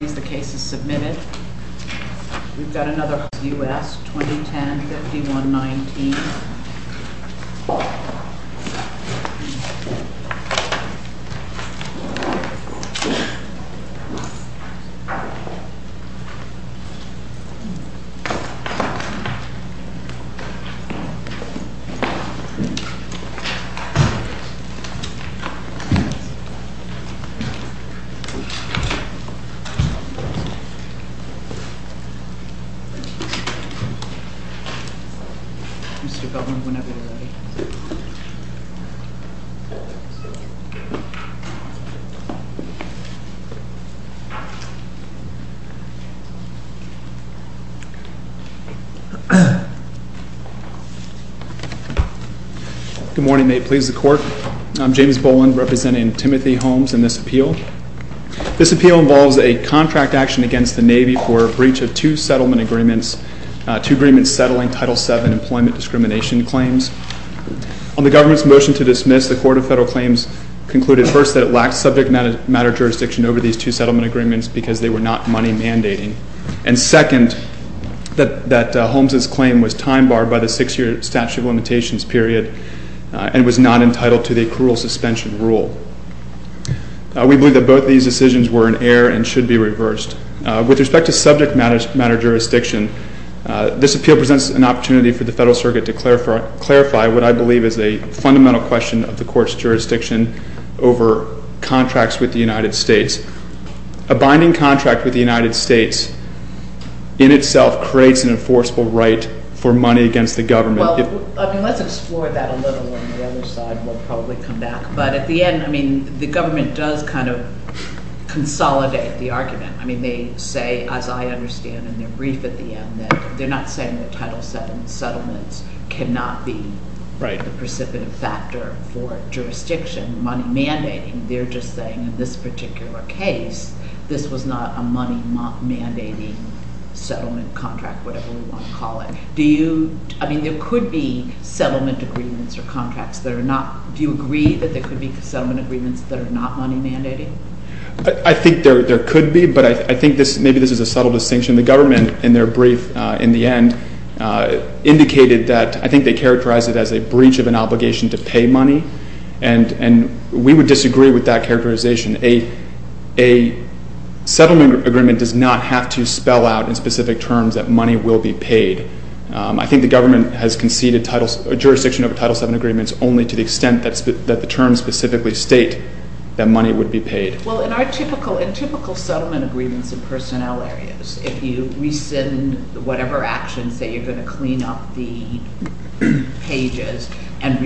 The case is submitted. We've got another U.S. 2010-51-19. Good morning. May it please the Court. I'm James Boland, representing Timothy Holmes in this appeal. This appeal involves a contract action against the Navy for a breach of two settlement agreements, two agreements settling Title VII employment discrimination claims. On the government's motion to dismiss, the Court of Federal Claims concluded, first, that it lacked subject matter jurisdiction over these two settlement agreements because they were not money mandating, and, second, that Holmes' claim was time barred by the six-year statute of limitations period and was not entitled to the accrual suspension rule. We believe that both these decisions were in error and should be reversed. With respect to subject matter jurisdiction, this appeal presents an opportunity for the Federal Circuit to clarify what I believe is a fundamental question of the Court's jurisdiction over contracts with the United States. A binding contract with the United States in itself creates an enforceable right for money against the government. Well, I mean, let's explore that a little on the other side. We'll probably come back. But at the end, I mean, the government does kind of consolidate the argument. I mean, they say, as I understand in their brief at the end, that they're not saying that Title VII settlements cannot be the precipitant factor for jurisdiction money mandating. They're just saying in this particular case, this was not a money mandating settlement contract, whatever we want to call it. Do you—I mean, there could be settlement agreements or contracts that are not—do you agree that there could be settlement agreements that are not money mandating? I think there could be, but I think this—maybe this is a subtle distinction. The government, in their brief in the end, indicated that—I think they characterized it as a breach of an obligation to pay money, and we would disagree with that characterization. A settlement agreement does not have to spell out in specific terms that money will be paid. I think the government has conceded jurisdiction over Title VII agreements only to the extent that the terms specifically state that money would be paid. Well, in our typical settlement agreements in personnel areas, if you rescind whatever actions, say you're going to clean up the pages and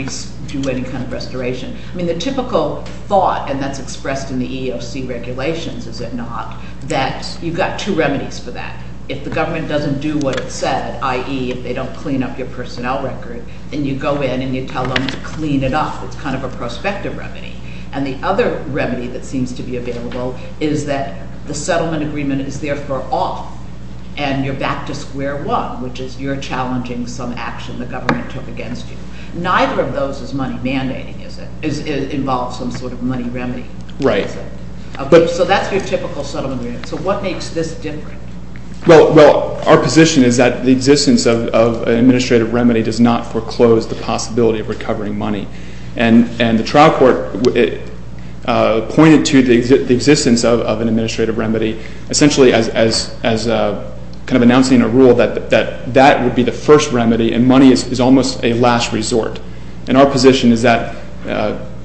do any kind of restoration, I mean, the typical thought, and that's expressed in the EEOC regulations, is it not, that you've got two remedies for that. If the government doesn't do what it said, i.e., if they don't clean up your personnel record, then you go in and you tell them to clean it up. It's kind of a prospective remedy. And the other remedy that seems to be available is that the settlement agreement is there for all, and you're back to square one, which is you're challenging some action the government took against you. Neither of those is money mandating, is it? It involves some sort of money remedy. Right. So that's your typical settlement agreement. So what makes this different? Well, our position is that the existence of an administrative remedy does not foreclose the possibility of recovering money. And the trial court pointed to the existence of an administrative remedy essentially as kind of announcing a rule that that would be the first remedy, and money is almost a last resort. And our position is that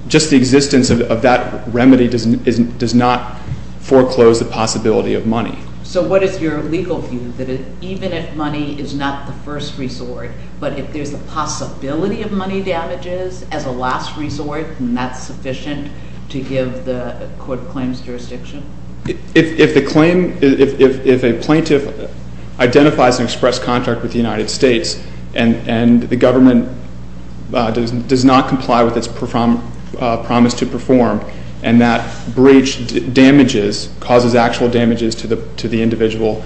just the existence of that remedy does not foreclose the possibility of money. So what is your legal view, that even if money is not the first resort, but if there's a possibility of money damages as a last resort, then that's sufficient to give the court a claims jurisdiction? If the claim, if a plaintiff identifies an express contract with the United States and the government does not comply with its promise to perform and that breach damages, causes actual damages to the individual,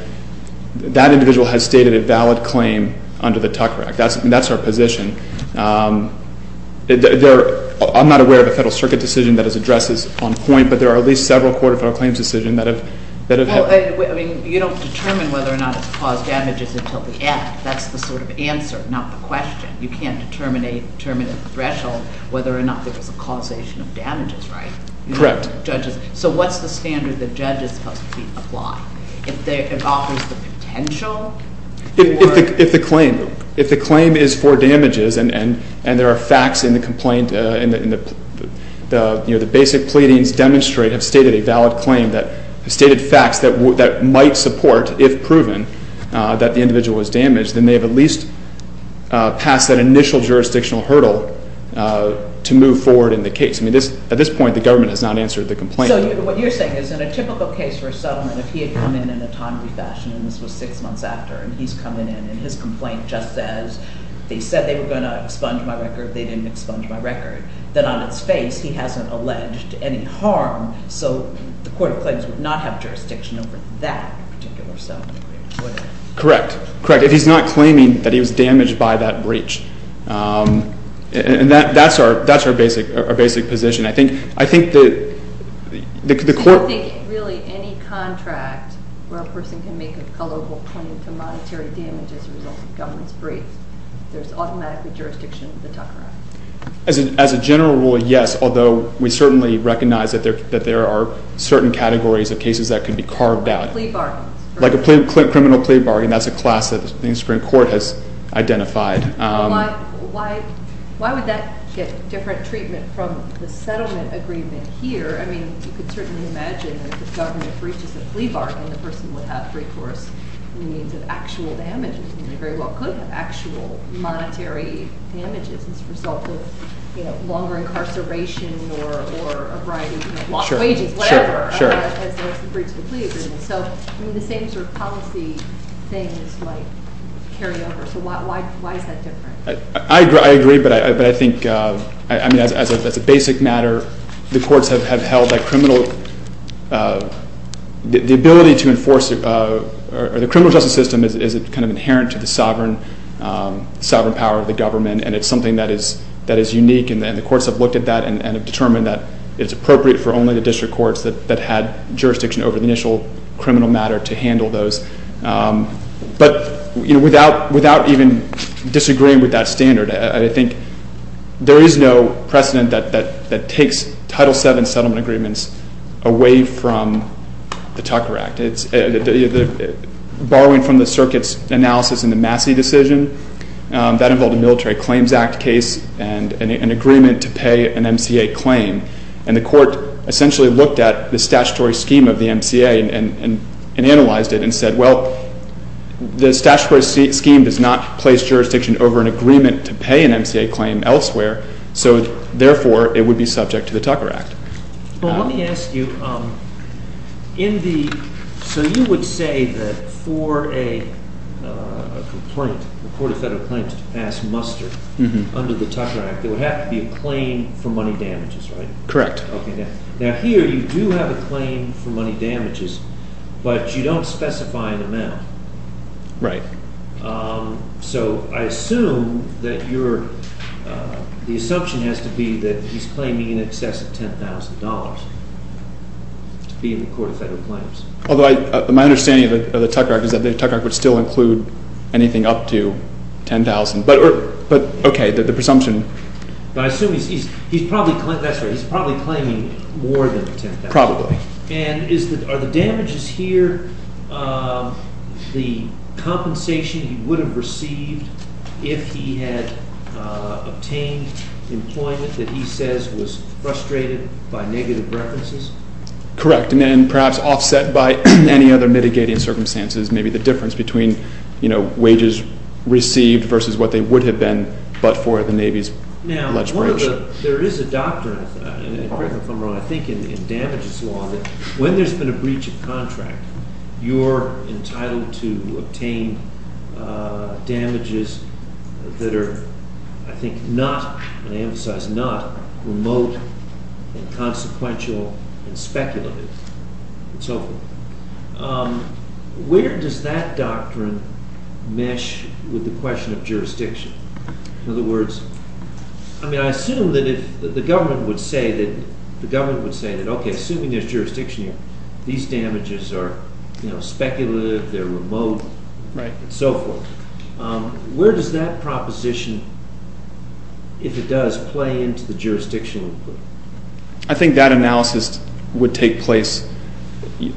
that individual has stated a valid claim under the Tucker Act. That's our position. I'm not aware of a Federal Circuit decision that has addressed this on point, but there are at least several Court of Federal Claims decisions that have helped. Well, I mean, you don't determine whether or not it's caused damages until the end. That's the sort of answer, not the question. You can't determine at the threshold whether or not there was a causation of damages, right? Correct. So what's the standard the judge is supposed to apply? If it offers the potential? If the claim, if the claim is for damages and there are facts in the complaint, and the basic pleadings demonstrate, have stated a valid claim, have stated facts that might support, if proven, that the individual was damaged, then they have at least passed that initial jurisdictional hurdle to move forward in the case. I mean, at this point, the government has not answered the complaint. So what you're saying is in a typical case for a settlement, if he had come in in a timely fashion, and this was six months after, and he's coming in and his complaint just says, they said they were going to expunge my record, they didn't expunge my record, then on its face he hasn't alleged any harm, so the Court of Claims would not have jurisdiction over that particular settlement. Correct. Correct. If he's not claiming that he was damaged by that breach. And that's our basic position. I think that the court— You don't think really any contract where a person can make a colorable claim to monetary damage as a result of a government's breach, there's automatically jurisdiction of the Tucker Act. As a general rule, yes, although we certainly recognize that there are certain categories of cases that can be carved out. Like plea bargains. Like a criminal plea bargain. That's a class that the Supreme Court has identified. Why would that get different treatment from the settlement agreement here? I mean, you could certainly imagine that if the government breaches a plea bargain, the person would have recourse to the means of actual damages, and they very well could have actual monetary damages as a result of longer incarceration or a variety of wages, whatever, as the breach of the plea agreement. So the same sort of policy thing is carried over. So why is that different? I agree, but I think as a basic matter, the courts have held that criminal— the ability to enforce the criminal justice system is kind of inherent to the sovereign power of the government, and it's something that is unique. And the courts have looked at that and have determined that it's appropriate for only the district courts that had jurisdiction over the initial criminal matter to handle those. But without even disagreeing with that standard, I think there is no precedent that takes Title VII settlement agreements away from the Tucker Act. Borrowing from the circuit's analysis in the Massey decision, that involved a Military Claims Act case and an agreement to pay an MCA claim, and the court essentially looked at the statutory scheme of the MCA and analyzed it and said, well, the statutory scheme does not place jurisdiction over an agreement to pay an MCA claim elsewhere, so therefore it would be subject to the Tucker Act. Well, let me ask you, in the—so you would say that for a complaint, the Court of Federal Claims to pass muster under the Tucker Act, there would have to be a claim for money damages, right? Correct. Okay, now here you do have a claim for money damages, but you don't specify an amount. Right. So I assume that you're—the assumption has to be that he's claiming in excess of $10,000 to be in the Court of Federal Claims. Although my understanding of the Tucker Act is that the Tucker Act would still include anything up to $10,000. But, okay, the presumption— But I assume he's probably—that's right, he's probably claiming more than $10,000. Probably. And is the—are the damages here the compensation he would have received if he had obtained employment that he says was frustrated by negative references? Correct, and perhaps offset by any other mitigating circumstances, maybe the difference between, you know, wages received versus what they would have been but for the Navy's alleged breach. Now, one of the—there is a doctrine, and correct me if I'm wrong, I think in damages law that when there's been a breach of contract, you're entitled to obtain damages that are, I think, not—and I emphasize not—remote and consequential and speculative and so forth. Where does that doctrine mesh with the question of jurisdiction? In other words, I mean, I assume that if the government would say that, the government would say that, okay, assuming there's jurisdiction here, these damages are, you know, speculative, they're remote, and so forth. Where does that proposition, if it does, play into the jurisdictional input? I think that analysis would take place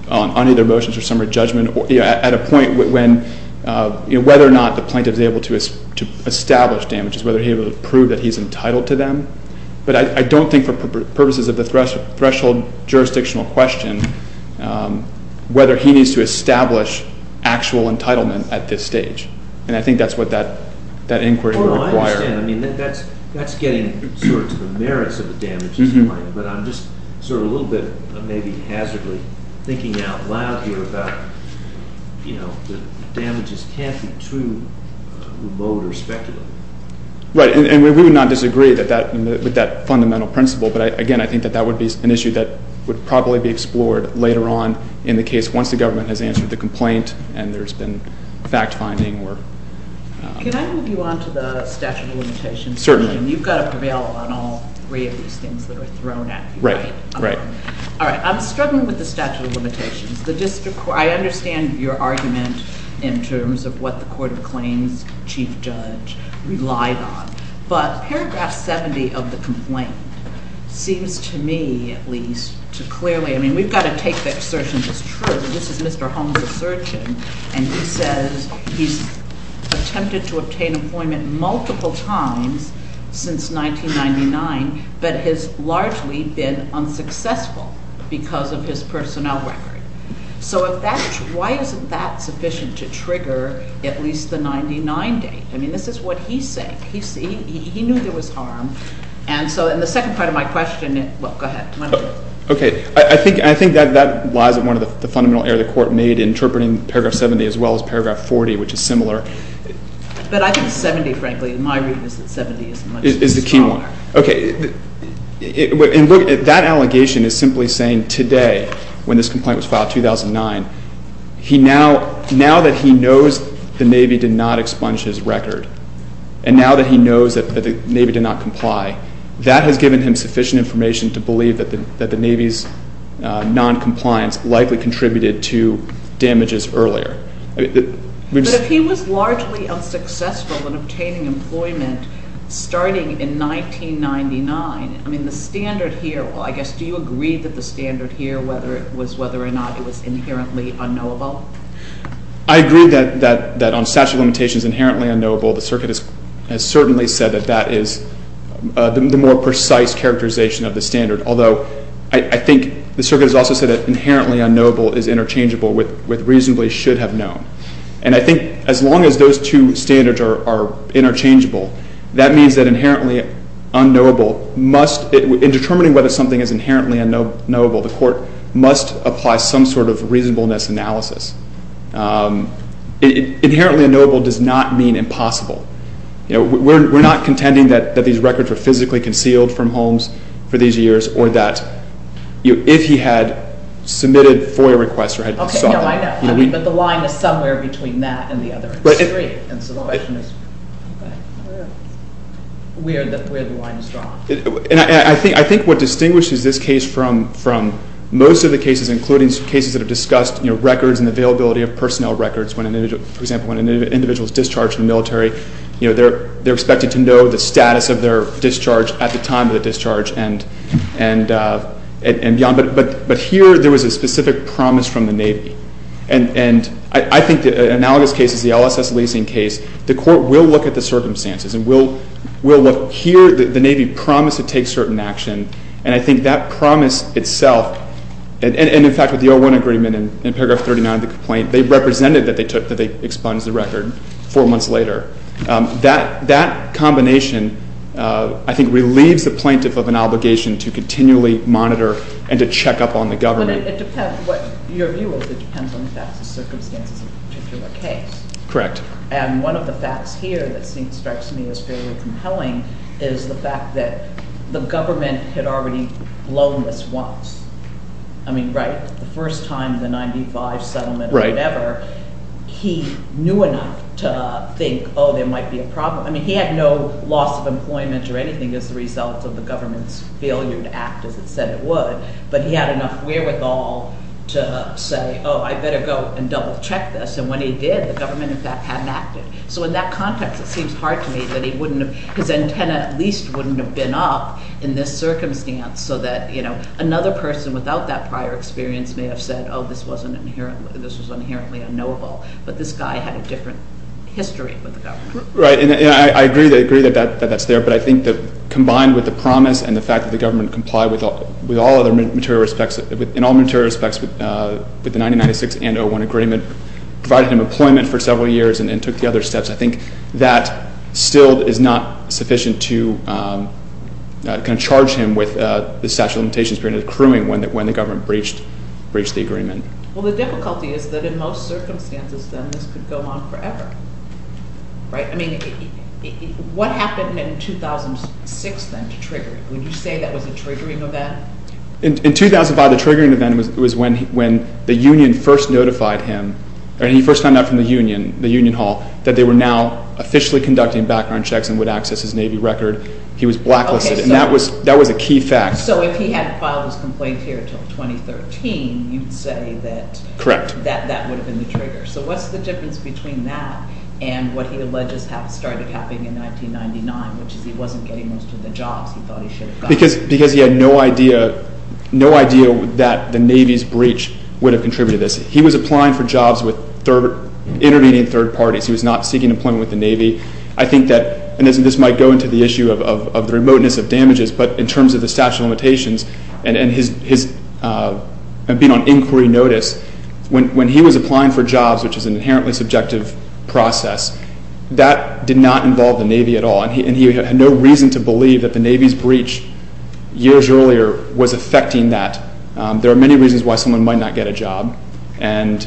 on either motions or summary judgment at a point when, you know, whether or not the plaintiff is able to establish damages, whether he would prove that he's entitled to them, but I don't think for purposes of the threshold jurisdictional question, whether he needs to establish actual entitlement at this stage, and I think that's what that inquiry would require. I understand. I mean, that's getting sort of to the merits of the damages claim, but I'm just sort of a little bit maybe hazardly thinking out loud here about, you know, that damages can't be too remote or speculative. Right, and we would not disagree with that fundamental principle, but again, I think that that would be an issue that would probably be explored later on in the case once the government has answered the complaint and there's been fact-finding or— Can I move you on to the statute of limitations? Certainly. You've got to prevail on all three of these things that are thrown at you. Right, right. All right, I'm struggling with the statute of limitations. I understand your argument in terms of what the court of claims chief judge relied on, but paragraph 70 of the complaint seems to me, at least, to clearly— I mean, we've got to take the assertion as true. This is Mr. Holmes' assertion, and he says he's attempted to obtain employment multiple times since 1999, but has largely been unsuccessful because of his personnel record. So why isn't that sufficient to trigger at least the 99 date? I mean, this is what he's saying. He knew there was harm, and so in the second part of my question— Well, go ahead. Okay. I think that lies at one of the fundamental errors the court made in interpreting paragraph 70 as well as paragraph 40, which is similar. But I think 70, frankly, in my reading is that 70 is much smaller. Is the key one. Okay. That allegation is simply saying today, when this complaint was filed in 2009, now that he knows the Navy did not expunge his record, and now that he knows that the Navy did not comply, that has given him sufficient information to believe that the Navy's noncompliance likely contributed to damages earlier. But if he was largely unsuccessful in obtaining employment starting in 1999, I mean, the standard here, well, I guess, do you agree that the standard here, whether it was whether or not it was inherently unknowable? I agree that on statute of limitations, inherently unknowable. The circuit has certainly said that that is the more precise characterization of the standard, although I think the circuit has also said that inherently unknowable is interchangeable with reasonably should have known. And I think as long as those two standards are interchangeable, that means that inherently unknowable must, in determining whether something is inherently unknowable, the court must apply some sort of reasonableness analysis. Inherently unknowable does not mean impossible. You know, we're not contending that these records were physically concealed from Holmes for these years or that if he had submitted FOIA requests or had sought them. Okay, no, I know. But the line is somewhere between that and the other. And so the question is where the line is drawn. And I think what distinguishes this case from most of the cases, including cases that have discussed records and availability of personnel records, for example, when an individual is discharged from the military, they're expected to know the status of their discharge at the time of the discharge and beyond. But here there was a specific promise from the Navy. And I think the analogous case is the LSS leasing case. The court will look at the circumstances and will look here. The Navy promised to take certain action. And I think that promise itself, and, in fact, with the 01 agreement in paragraph 39 of the complaint, they represented that they expunged the record four months later. That combination, I think, relieves the plaintiff of an obligation to continually monitor and to check up on the government. But it depends what your view is. It depends on the facts and circumstances of the particular case. Correct. And one of the facts here that strikes me as fairly compelling is the fact that the government had already blown this once. I mean, right? The first time, the 95 settlement or whatever. He knew enough to think, oh, there might be a problem. I mean, he had no loss of employment or anything as a result of the government's failure to act as it said it would. But he had enough wherewithal to say, oh, I'd better go and double-check this. And when he did, the government, in fact, hadn't acted. So in that context, it seems hard to me that he wouldn't have, his antenna at least wouldn't have been up in this circumstance so that, you know, another person without that prior experience may have said, oh, this was inherently unknowable. But this guy had a different history with the government. Right. And I agree that that's there, but I think that combined with the promise and the fact that the government complied with all other material respects, in all material respects with the 1996 and 01 agreement, provided him employment for several years and took the other steps, I think that still is not sufficient to kind of charge him with the statute of limitations granted accruing when the government breached the agreement. Well, the difficulty is that in most circumstances, then, this could go on forever. Right? I mean, what happened in 2006, then, to trigger it? Would you say that was a triggering event? In 2005, the triggering event was when the union first notified him, when he first found out from the union, the union hall, that they were now officially conducting background checks and would access his Navy record. He was blacklisted, and that was a key fact. So if he hadn't filed his complaint here until 2013, you'd say that that would have been the trigger. Correct. So what's the difference between that and what he alleges started happening in 1999, which is he wasn't getting most of the jobs he thought he should have gotten? Because he had no idea that the Navy's breach would have contributed to this. He was applying for jobs with intervening third parties. He was not seeking employment with the Navy. I think that, and this might go into the issue of the remoteness of damages, but in terms of the statute of limitations and being on inquiry notice, when he was applying for jobs, which is an inherently subjective process, that did not involve the Navy at all, and he had no reason to believe that the Navy's breach years earlier was affecting that. There are many reasons why someone might not get a job, and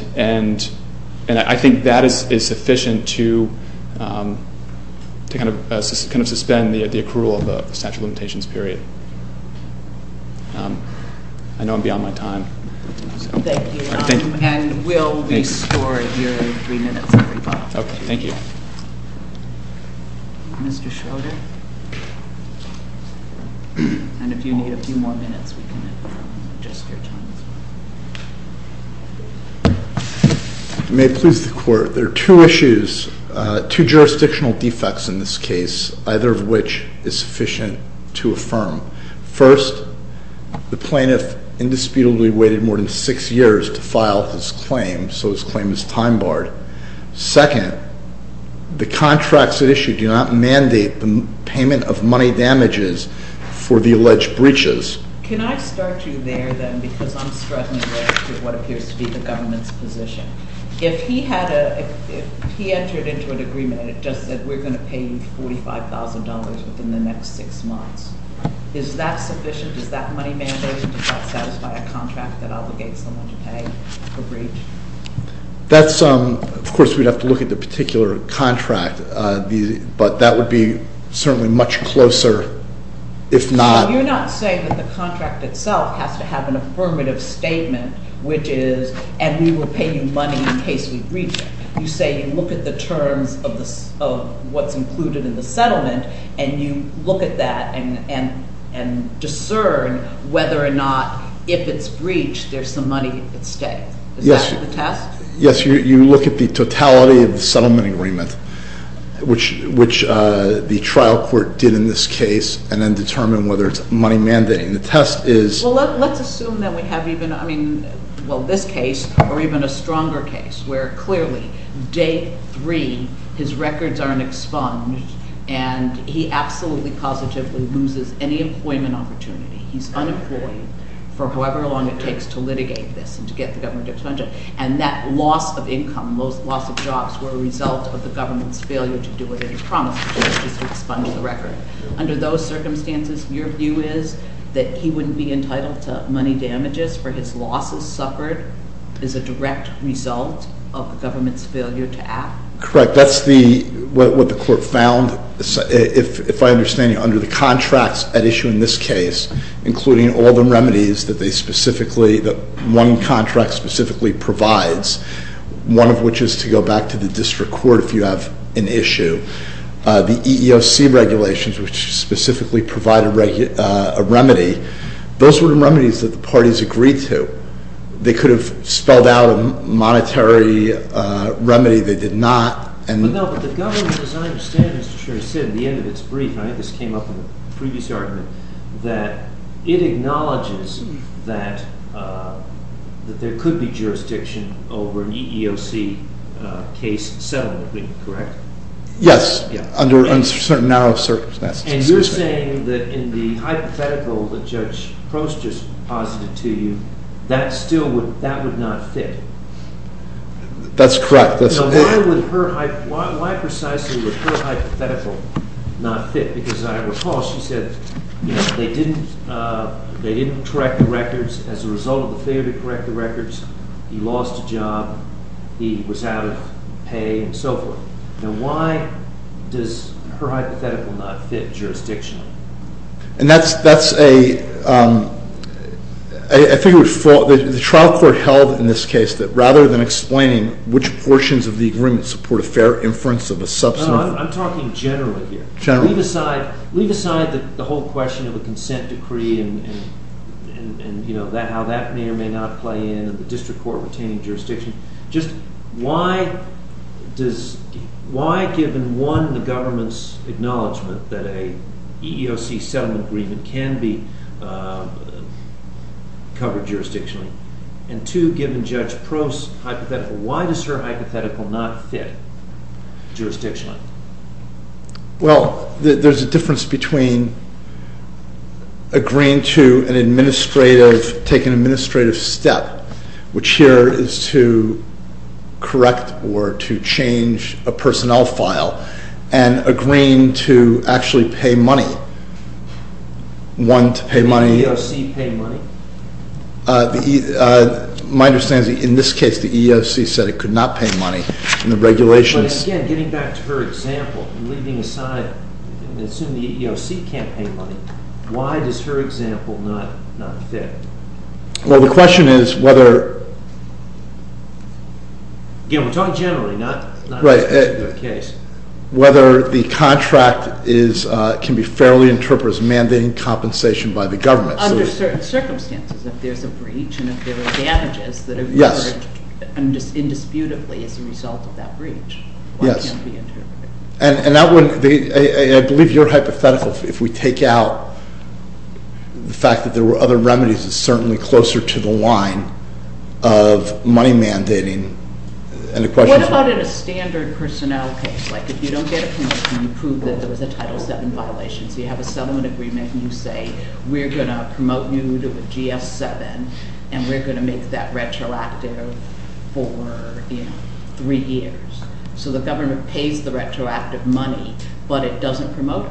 I think that is sufficient to kind of suspend the accrual of the statute of limitations period. I know I'm beyond my time. Thank you. Thank you. And we'll restore your three minutes. Okay, thank you. Mr. Schroeder? And if you need a few more minutes, we can adjust your time. May it please the Court. There are two issues, two jurisdictional defects in this case, either of which is sufficient to affirm. First, the plaintiff indisputably waited more than six years to file his claim, so his claim is time barred. Second, the contracts at issue do not mandate the payment of money damages for the alleged breaches. Can I start you there, then, because I'm struggling with what appears to be the government's position. If he entered into an agreement and it just said, we're going to pay you $45,000 within the next six months, is that sufficient? Is that money mandated? Does that satisfy a contract that obligates someone to pay for breach? Of course, we'd have to look at the particular contract, but that would be certainly much closer if not. So you're not saying that the contract itself has to have an affirmative statement, which is, and we will pay you money in case we breach it. You say you look at the terms of what's included in the settlement, and you look at that and discern whether or not, if it's breached, there's some money at stake. Is that the test? Yes, you look at the totality of the settlement agreement, which the trial court did in this case, and then determine whether it's money mandating. The test is- Well, let's assume that we have even, I mean, well, this case, or even a stronger case, where clearly, day three, his records are in expunge, and he absolutely positively loses any employment opportunity. He's unemployed for however long it takes to litigate this and to get the government to expunge it, and that loss of income, loss of jobs, were a result of the government's failure to do what it promised, which is to expunge the record. Under those circumstances, your view is that he wouldn't be entitled to money damages for his losses suffered as a direct result of the government's failure to act? Correct. That's what the court found, if I understand you, under the contracts at issue in this case, including all the remedies that one contract specifically provides, one of which is to go back to the district court if you have an issue. The EEOC regulations, which specifically provide a remedy, those were remedies that the parties agreed to. They could have spelled out a monetary remedy. They did not. No, but the government, as I understand it, Mr. Sherry, said at the end of its brief, and I think this came up in a previous argument, that it acknowledges that there could be jurisdiction over an EEOC case settlement agreement, correct? Yes, under certain narrow circumstances. And you're saying that in the hypothetical that Judge Prost just posited to you, that still would not fit? That's correct. Now, why precisely would her hypothetical not fit? Because I recall she said they didn't correct the records as a result of the failure to correct the records. He lost a job. He was out of pay and so forth. Now, why does her hypothetical not fit jurisdictionally? And that's a—I think the trial court held in this case that rather than explaining which portions of the agreement support a fair inference of a substantive— No, I'm talking generally here. Leave aside the whole question of a consent decree and, you know, how that may or may not play in, in the district court retaining jurisdiction. Just why does—why, given, one, the government's acknowledgment that an EEOC settlement agreement can be covered jurisdictionally, and two, given Judge Prost's hypothetical, why does her hypothetical not fit jurisdictionally? Well, there's a difference between agreeing to an administrative—take an administrative step, which here is to correct or to change a personnel file, and agreeing to actually pay money. One, to pay money— Did the EEOC pay money? My understanding is that in this case the EEOC said it could not pay money in the regulations. Again, getting back to her example, leaving aside—assuming the EEOC can't pay money, why does her example not fit? Well, the question is whether— Again, we're talking generally, not in this particular case. Whether the contract is—can be fairly interpreted as mandating compensation by the government. Under certain circumstances, if there's a breach and if there are damages that have emerged indisputably as a result of that breach. Yes. Why can't it be interpreted? And that would—I believe your hypothetical, if we take out the fact that there were other remedies, is certainly closer to the line of money mandating, and the question is— What about in a standard personnel case? Like, if you don't get a penalty and you prove that there was a Title VII violation, so you have a settlement agreement and you say, we're going to promote you to a GS-7, and we're going to make that retroactive for three years. So the government pays the retroactive money, but it doesn't promote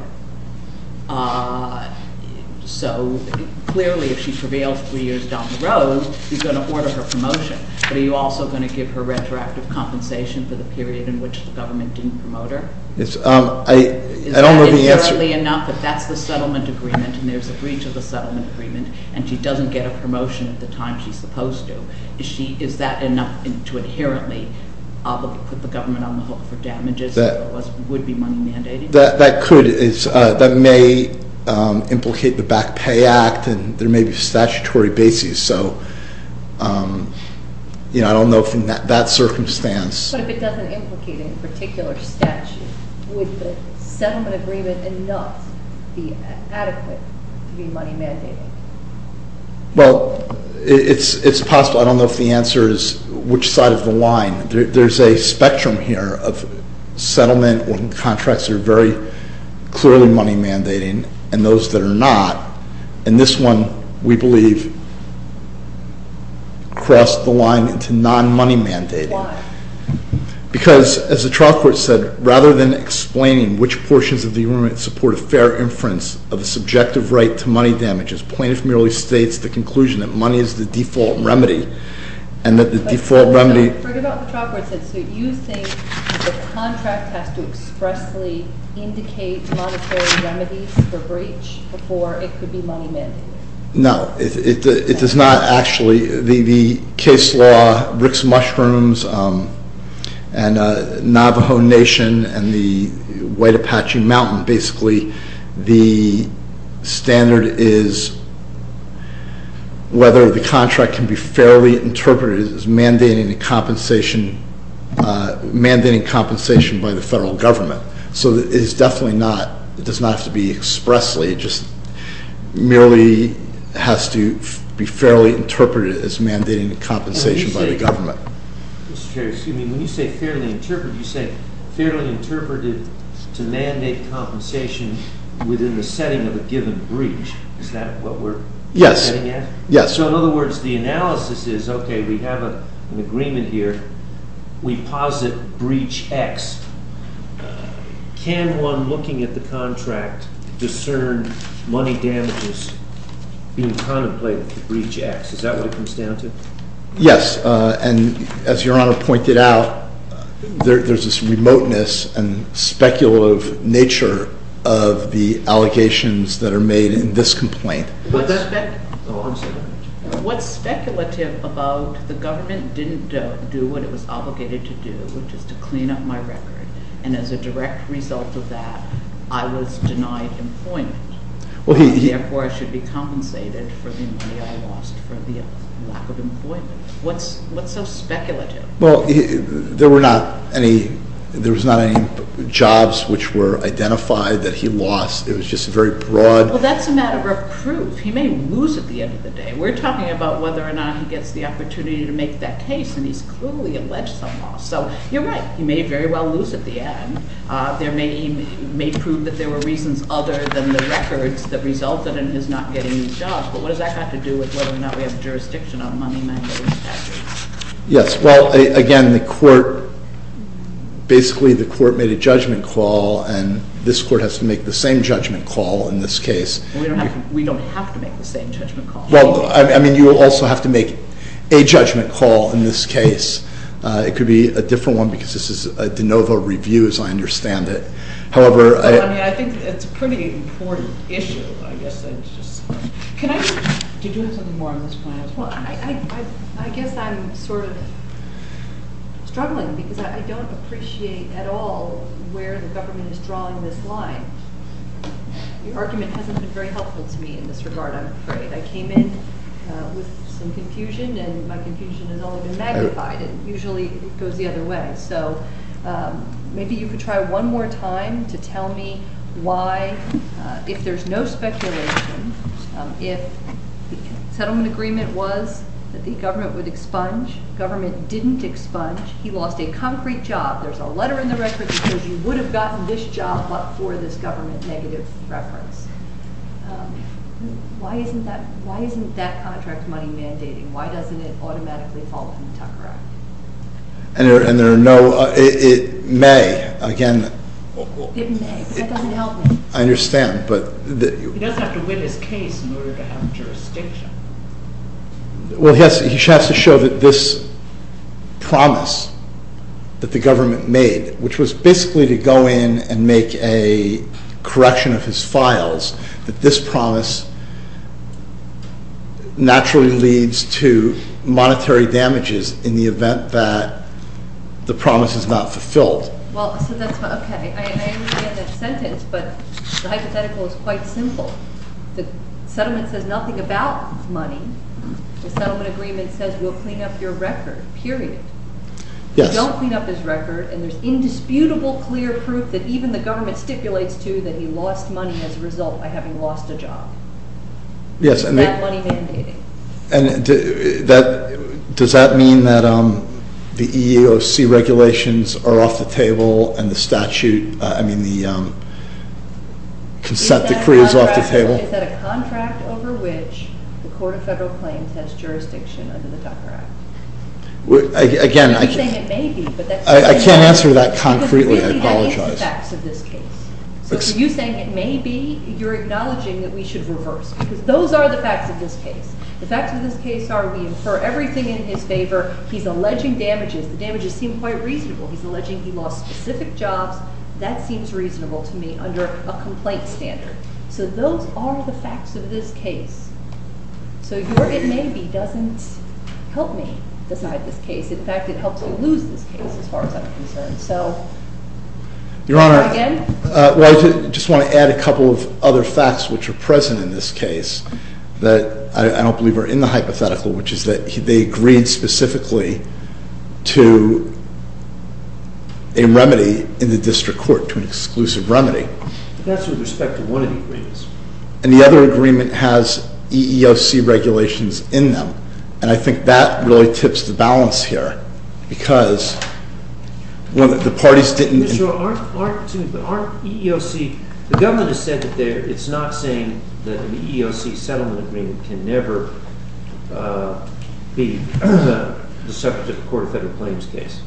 her. So, clearly, if she prevails three years down the road, you're going to order her promotion. But are you also going to give her retroactive compensation for the period in which the government didn't promote her? I don't know the answer. Clearly enough, if that's the settlement agreement and there's a breach of the settlement agreement and she doesn't get a promotion at the time she's supposed to, is that enough to inherently put the government on the hook for damages that would be money mandating? That could. That may implicate the Back Pay Act, and there may be statutory bases. So, you know, I don't know from that circumstance. But if it doesn't implicate in a particular statute, would the settlement agreement enough be adequate to be money mandating? Well, it's possible. I don't know if the answer is which side of the line. There's a spectrum here of settlement when contracts are very clearly money mandating and those that are not. And this one, we believe, crossed the line into non-money mandating. Why? Because, as the trial court said, rather than explaining which portions of the arraignment support a fair inference of the subjective right to money damages, plaintiff merely states the conclusion that money is the default remedy and that the default remedy- I forgot what the trial court said. So you think the contract has to expressly indicate monetary remedies for breach before it could be money mandating? No. It does not actually. The case law, Rick's Mushrooms, and Navajo Nation, and the White Apache Mountain, basically the standard is whether the contract can be fairly interpreted as mandating compensation by the federal government. So it is definitely not. It does not have to be expressly. It just merely has to be fairly interpreted as mandating compensation by the government. Mr. Chair, when you say fairly interpreted, you say fairly interpreted to mandate compensation within the setting of a given breach. Is that what we're getting at? Yes. So in other words, the analysis is, okay, we have an agreement here. We posit breach X. Can one looking at the contract discern money damages being contemplated for breach X? Is that what it comes down to? Yes. And as Your Honor pointed out, there's this remoteness and speculative nature of the allegations that are made in this complaint. What's speculative about the government didn't do what it was obligated to do, which is to clean up my record, and as a direct result of that, I was denied employment. Therefore, I should be compensated for the money I lost for the lack of employment. What's so speculative? Well, there was not any jobs which were identified that he lost. It was just very broad. Well, that's a matter of proof. He may lose at the end of the day. We're talking about whether or not he gets the opportunity to make that case, and he's clearly alleged some loss. So you're right. He may very well lose at the end. He may prove that there were reasons other than the records that resulted in his not getting any jobs, but what does that have to do with whether or not we have jurisdiction on money management measures? Yes. Well, again, basically the court made a judgment call, and this court has to make the same judgment call in this case. We don't have to make the same judgment call. Well, I mean, you also have to make a judgment call in this case. It could be a different one because this is a de novo review, as I understand it. I mean, I think it's a pretty important issue, I guess. Did you have something more on this point? Well, I guess I'm sort of struggling because I don't appreciate at all where the government is drawing this line. Your argument hasn't been very helpful to me in this regard, I'm afraid. I came in with some confusion, and my confusion has only been magnified, and usually it goes the other way. Maybe you could try one more time to tell me why, if there's no speculation, if the settlement agreement was that the government would expunge, government didn't expunge, he lost a concrete job, there's a letter in the record that says you would have gotten this job but for this government negative reference. Why isn't that contract money mandating? Why doesn't it automatically fall under the Tucker Act? And there are no...it may, again... It may, but that doesn't help me. I understand, but... He doesn't have to win his case in order to have jurisdiction. Well, he has to show that this promise that the government made, which was basically to go in and make a correction of his files, that this promise naturally leads to monetary damages in the event that the promise is not fulfilled. Well, so that's why... Okay, I understand that sentence, but the hypothetical is quite simple. The settlement says nothing about money. The settlement agreement says we'll clean up your record, period. Yes. You don't clean up his record, and there's indisputable clear proof that even the government stipulates to that he lost money as a result by having lost a job. Yes, and... Is that money mandating? And does that mean that the EEOC regulations are off the table and the statute, I mean, the consent decree is off the table? Is that a contract over which the Court of Federal Claims has jurisdiction under the Tucker Act? Again, I can't answer that concretely, I apologize. So you're saying it may be. You're acknowledging that we should reverse, because those are the facts of this case. The facts of this case are we infer everything in his favor. He's alleging damages. The damages seem quite reasonable. He's alleging he lost specific jobs. That seems reasonable to me under a complaint standard. So those are the facts of this case. So your it may be doesn't help me decide this case. In fact, it helps me lose this case as far as I'm concerned. Your Honor, I just want to add a couple of other facts which are present in this case that I don't believe are in the hypothetical, which is that they agreed specifically to a remedy in the district court, to an exclusive remedy. That's with respect to one of the agreements. And the other agreement has EEOC regulations in them. And I think that really tips the balance here, because the parties didn't- Your Honor, aren't EEOC, the government has said that it's not saying that an EEOC settlement agreement can never be the subject of a court of federal claims case.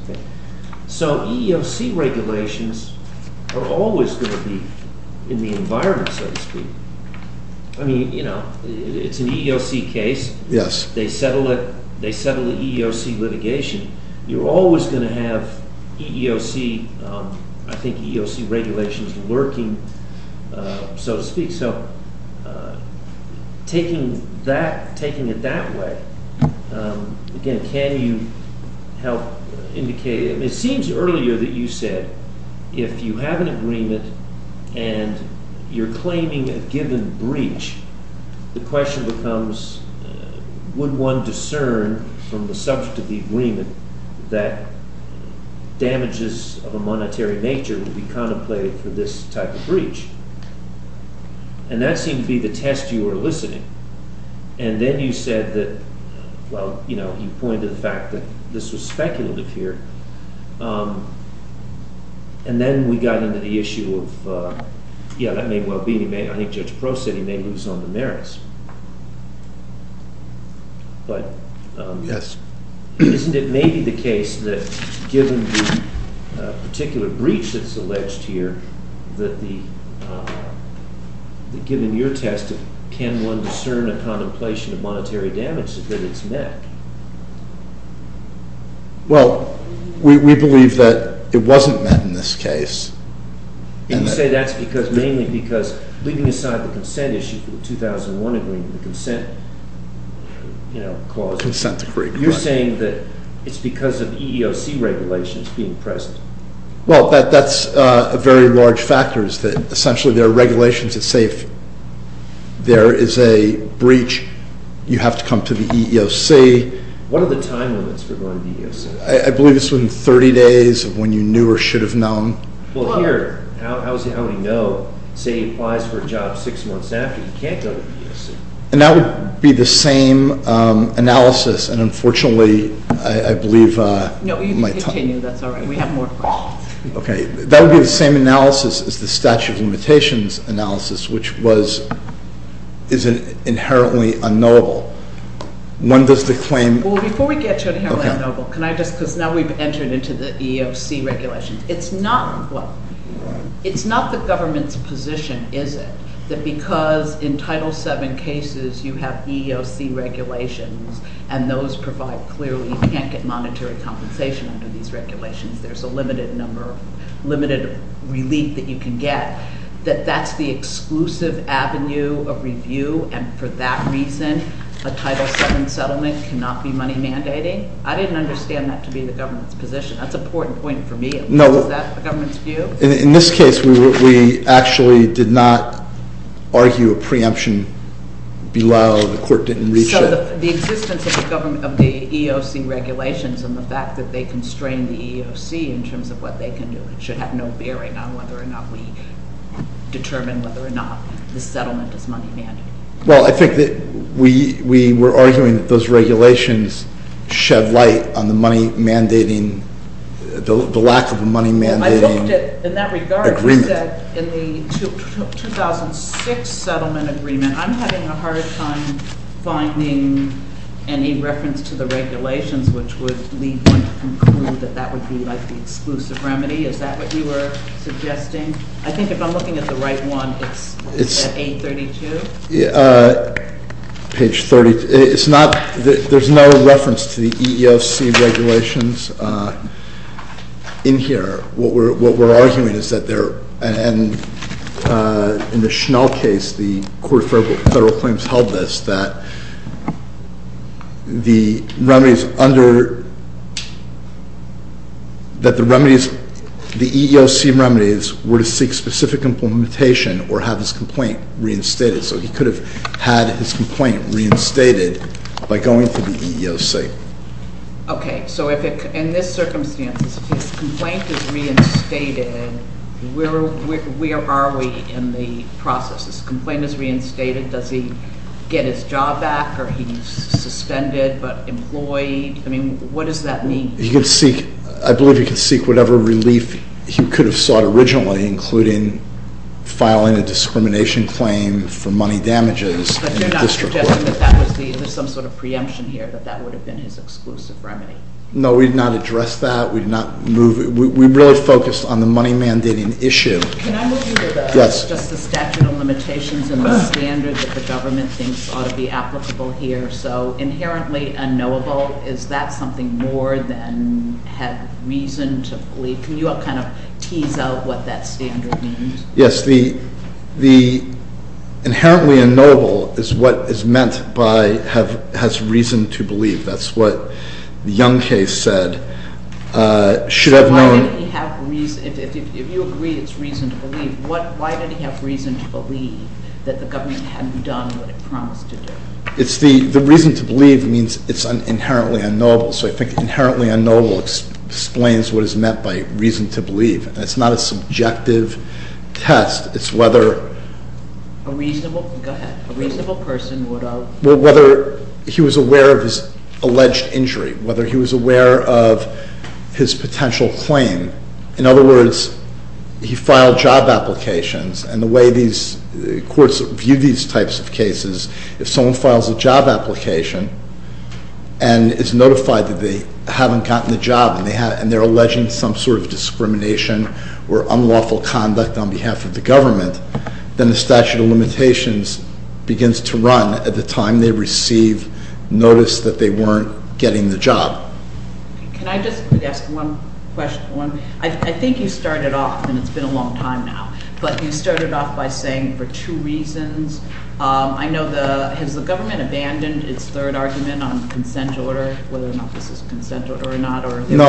So EEOC regulations are always going to be in the environment, so to speak. I mean, it's an EEOC case. Yes. They settle it, they settle the EEOC litigation. You're always going to have EEOC, I think EEOC regulations lurking, so to speak. So taking it that way, again, can you help indicate- It seems earlier that you said if you have an agreement and you're claiming a given breach, the question becomes would one discern from the subject of the agreement that damages of a monetary nature would be contemplated for this type of breach? And that seemed to be the test you were eliciting. And then you said that, well, you know, you pointed to the fact that this was speculative here. And then we got into the issue of, yeah, that may well be. I think Judge Prost said he may lose on the merits. Yes. Isn't it maybe the case that given the particular breach that's alleged here, that given your test, can one discern a contemplation of monetary damage that it's met? Well, we believe that it wasn't met in this case. You say that's mainly because, leaving aside the consent issue for the 2001 agreement, the consent clause- You're saying that it's because of EEOC regulations being present. Well, that's a very large factor, is that essentially there are regulations that say if there is a breach, you have to come to the EEOC. What are the time limits for going to the EEOC? I believe it's within 30 days of when you knew or should have known. Well, here, how many know, say he applies for a job six months after, he can't go to the EEOC. And that would be the same analysis, and unfortunately, I believe- No, you can continue. That's all right. We have more questions. Okay. That would be the same analysis as the statute of limitations analysis, which is inherently unknowable. When does the claim- Well, before we get to inherently unknowable, can I just, because now we've entered into the EEOC regulations. It's not the government's position, is it, that because in Title VII cases you have EEOC regulations, and those provide clearly you can't get monetary compensation under these regulations, there's a limited relief that you can get, that that's the exclusive avenue of review, and for that reason, a Title VII settlement cannot be money mandating? I didn't understand that to be the government's position. That's an important point for me. No. Is that the government's view? In this case, we actually did not argue a preemption below. The court didn't reach it. So the existence of the EEOC regulations and the fact that they constrain the EEOC in terms of what they can do should have no bearing on whether or not we determine whether or not the settlement is money mandating. Well, I think that we were arguing that those regulations shed light on the money mandating, the lack of a money mandating agreement. Well, I looked at, in that regard, you said in the 2006 settlement agreement, I'm having a hard time finding any reference to the regulations which would lead me to conclude that that would be like the exclusive remedy. Is that what you were suggesting? I think if I'm looking at the right one, it's 832? Page 32. It's not, there's no reference to the EEOC regulations in here. What we're arguing is that there, and in the Schnell case, the court of federal claims held this, that the remedies under, that the remedies, the EEOC remedies were to seek specific implementation or have his complaint reinstated. So he could have had his complaint reinstated by going to the EEOC. Okay, so in this circumstance, if his complaint is reinstated, where are we in the process? His complaint is reinstated, does he get his job back or he's suspended but employed? I mean, what does that mean? He could seek, I believe he could seek whatever relief he could have sought originally, including filing a discrimination claim for money damages. But you're not suggesting that that was the, there's some sort of preemption here, that that would have been his exclusive remedy? No, we did not address that. We did not move, we really focused on the money mandating issue. Can I move you to the, just the statute of limitations and the standard that the government thinks ought to be applicable here. So inherently unknowable, is that something more than have reason to believe? Can you kind of tease out what that standard means? Yes, the inherently unknowable is what is meant by has reason to believe. That's what the Young case said, should have known. If you agree it's reason to believe, why did he have reason to believe that the government hadn't done what it promised to do? It's the, the reason to believe means it's inherently unknowable. So I think inherently unknowable explains what is meant by reason to believe. It's not a subjective test, it's whether... A reasonable, go ahead, a reasonable person would have... Whether he was aware of his alleged injury, whether he was aware of his potential claim. In other words, he filed job applications and the way these courts view these types of cases, if someone files a job application and is notified that they haven't gotten the job and they're alleging some sort of discrimination or unlawful conduct on behalf of the government, then the statute of limitations begins to run at the time they receive notice that they weren't getting the job. Can I just quickly ask one question? I think you started off, and it's been a long time now, but you started off by saying for two reasons. I know the, has the government abandoned its third argument on the consent order, whether or not this is a consent order or not, or are there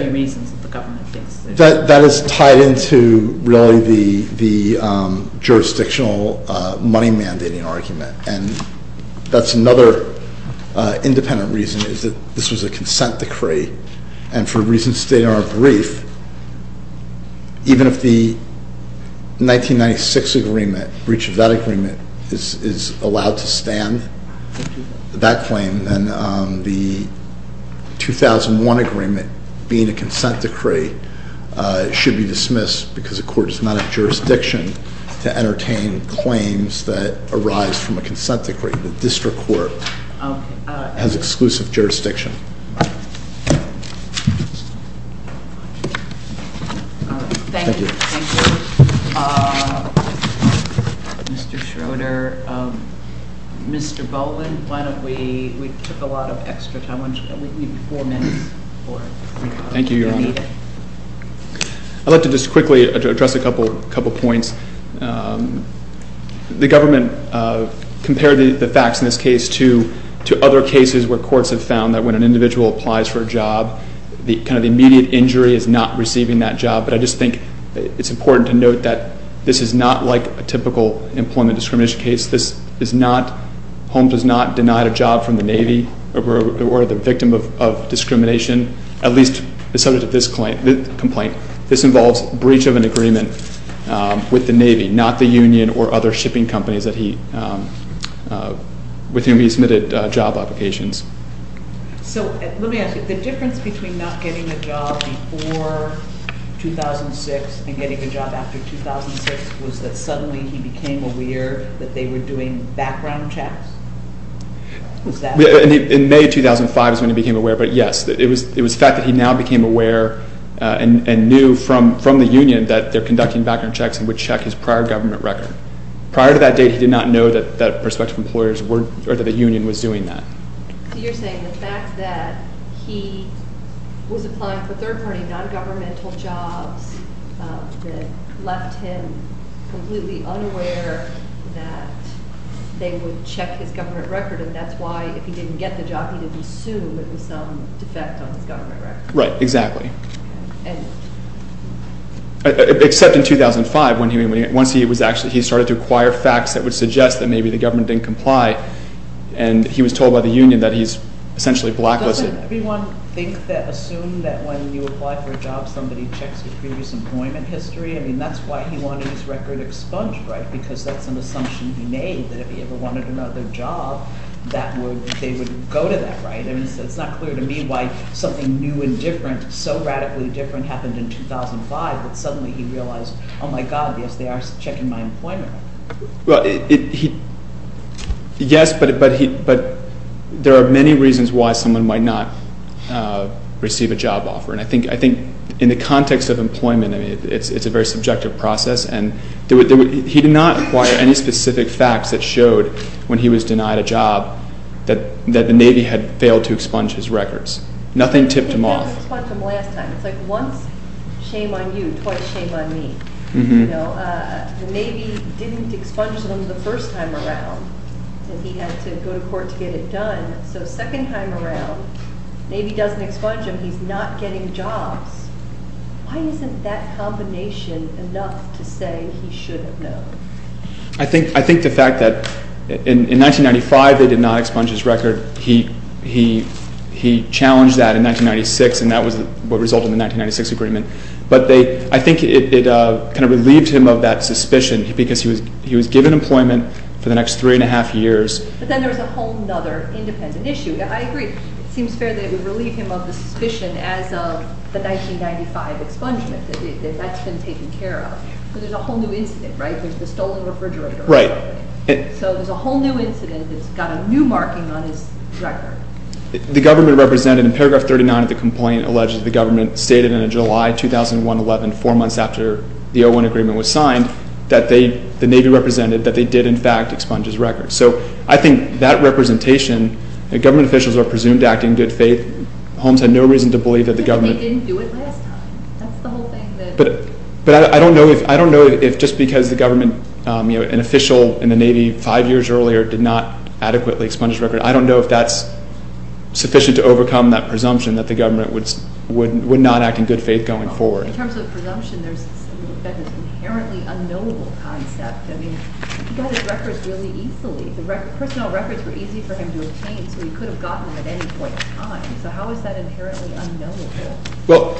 other reasons that the government thinks... That is tied into really the jurisdictional money mandating argument. And that's another independent reason is that this was a consent decree, and for reasons stated in our brief, even if the 1996 agreement, breach of that agreement, is allowed to stand, that claim, then the 2001 agreement being a consent decree should be dismissed because the court does not have jurisdiction to entertain claims that arise from a consent decree. The district court has exclusive jurisdiction. Thank you. Thank you, Mr. Schroeder. Mr. Boland, why don't we, we took a lot of extra time, why don't we leave four minutes for it? Thank you, Your Honor. I'd like to just quickly address a couple of points. The government compared the facts in this case to other cases where courts have found that when an individual applies for a job, the kind of immediate injury is not receiving that job. But I just think it's important to note that this is not like a typical employment discrimination case. This is not, Holmes was not denied a job from the Navy or the victim of discrimination. At least the subject of this complaint, this involves breach of an agreement with the Navy, not the union or other shipping companies with whom he submitted job applications. So let me ask you, the difference between not getting a job before 2006 and getting a job after 2006 was that suddenly he became aware that they were doing background checks? Exactly. In May 2005 is when he became aware. But yes, it was the fact that he now became aware and knew from the union that they're conducting background checks and would check his prior government record. Prior to that date, he did not know that prospective employers were, or that the union was doing that. So you're saying the fact that he was applying for third-party non-governmental jobs that left him completely unaware that they would check his government record, and that's why, if he didn't get the job, he didn't assume it was some defect on his government record. Right, exactly. Except in 2005, once he started to acquire facts that would suggest that maybe the government didn't comply, and he was told by the union that he's essentially blacklisted. Doesn't everyone assume that when you apply for a job, somebody checks your previous employment history? I mean, that's why he wanted his record expunged, right? Because that's an assumption he made, that if he ever wanted another job, they would go to that, right? I mean, it's not clear to me why something new and different, so radically different, happened in 2005 that suddenly he realized, oh my God, yes, they are checking my employment record. Well, yes, but there are many reasons why someone might not receive a job offer, and I think in the context of employment, I mean, it's a very subjective process, and he did not acquire any specific facts that showed when he was denied a job that the Navy had failed to expunge his records. Nothing tipped him off. He did not expunge them last time. It's like once, shame on you, twice shame on me. The Navy didn't expunge them the first time around, and he had to go to court to get it done. So second time around, the Navy doesn't expunge them, he's not getting jobs. Why isn't that combination enough to say he should have known? I think the fact that in 1995 they did not expunge his record. He challenged that in 1996, and that was what resulted in the 1996 agreement. But I think it kind of relieved him of that suspicion because he was given employment for the next three and a half years. But then there was a whole other independent issue. I agree. It seems fair that it would relieve him of the suspicion as of the 1995 expungement that that's been taken care of. But there's a whole new incident, right? There's the stolen refrigerator. Right. So there's a whole new incident that's got a new marking on his record. The government represented in paragraph 39 of the complaint alleges the government stated in a July 2011, four months after the O1 agreement was signed, that the Navy represented that they did, in fact, expunge his record. So I think that representation, government officials are presumed to act in good faith. Holmes had no reason to believe that the government I think they didn't do it last time. That's the whole thing. But I don't know if just because the government, an official in the Navy five years earlier did not adequately expunge his record, I don't know if that's sufficient to overcome that presumption that the government would not act in good faith going forward. In terms of presumption, there's this inherently unknowable concept. I mean, he got his records really easily. The personnel records were easy for him to obtain, so he could have gotten them at any point in time. So how is that inherently unknowable? Well,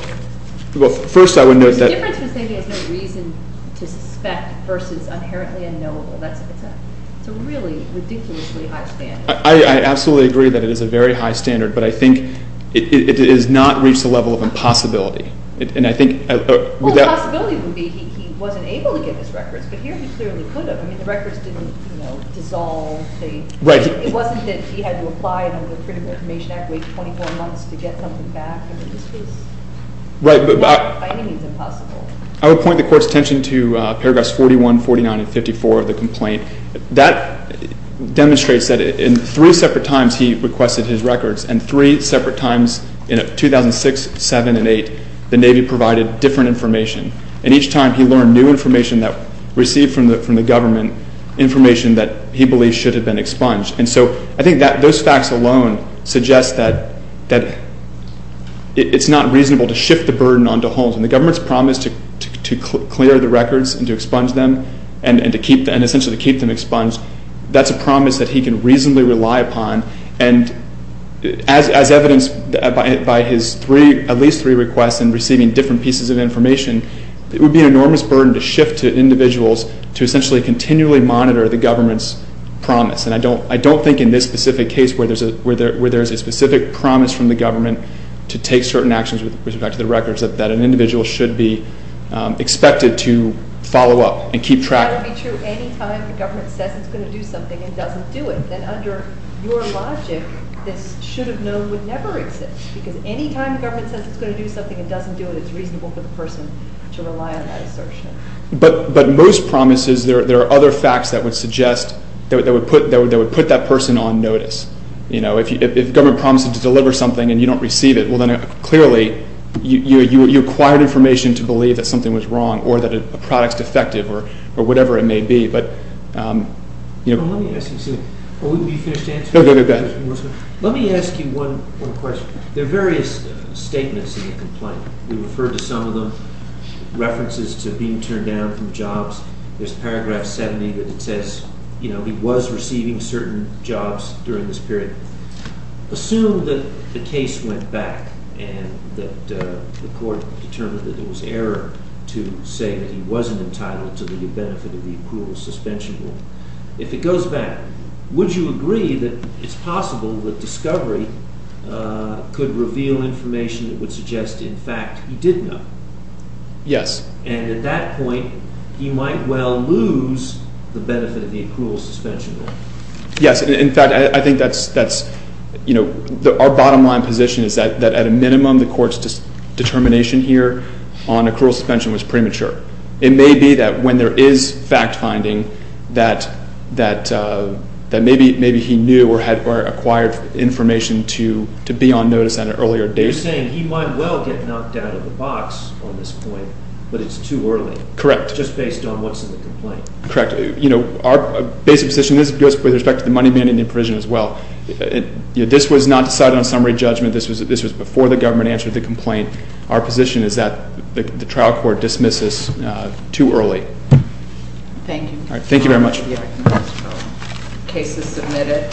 first I would note that The difference is that he has no reason to suspect versus inherently unknowable. That's what it says. It's a really ridiculously high standard. I absolutely agree that it is a very high standard, but I think it has not reached the level of impossibility. And I think Well, the possibility would be he wasn't able to get his records, but here he clearly could have. I mean, the records didn't, you know, dissolve. It wasn't that he had to apply under the Critical Information Act, wait 24 months to get something back. I mean, this was not by any means impossible. I would point the Court's attention to paragraphs 41, 49, and 54 of the complaint. I think that demonstrates that in three separate times he requested his records, and three separate times in 2006, 2007, and 2008, the Navy provided different information. And each time he learned new information that received from the government, information that he believed should have been expunged. And so I think those facts alone suggest that it's not reasonable to shift the burden onto Holmes. And the government's promise to clear the records and to expunge them and essentially to keep them expunged, that's a promise that he can reasonably rely upon. And as evidenced by his at least three requests and receiving different pieces of information, it would be an enormous burden to shift to individuals to essentially continually monitor the government's promise. And I don't think in this specific case where there's a specific promise from the government to take certain actions with respect to the records that an individual should be expected to follow up and keep track of. That would be true any time the government says it's going to do something and doesn't do it. And under your logic, this should have known would never exist. Because any time the government says it's going to do something and doesn't do it, it's reasonable for the person to rely on that assertion. But most promises, there are other facts that would suggest, that would put that person on notice. If the government promises to deliver something and you don't receive it, then clearly you acquired information to believe that something was wrong or that a product's defective or whatever it may be. Let me ask you one question. There are various statements in the complaint. We referred to some of them, references to being turned down from jobs. There's paragraph 70 that says he was receiving certain jobs during this period. Assume that the case went back and that the court determined that it was error to say that he wasn't entitled to the benefit of the accrual suspension rule. If it goes back, would you agree that it's possible that discovery could reveal information that would suggest, in fact, he did know? Yes. And at that point, he might well lose the benefit of the accrual suspension rule. Yes. In fact, I think that's, you know, our bottom line position is that at a minimum, the court's determination here on accrual suspension was premature. It may be that when there is fact finding that maybe he knew or acquired information to be on notice at an earlier date. You're saying he might well get knocked out of the box on this point, but it's too early. Correct. Just based on what's in the complaint. Correct. Our basic position goes with respect to the money management provision as well. This was not decided on summary judgment. This was before the government answered the complaint. Our position is that the trial court dismisses too early. Thank you. Thank you very much. The case is submitted.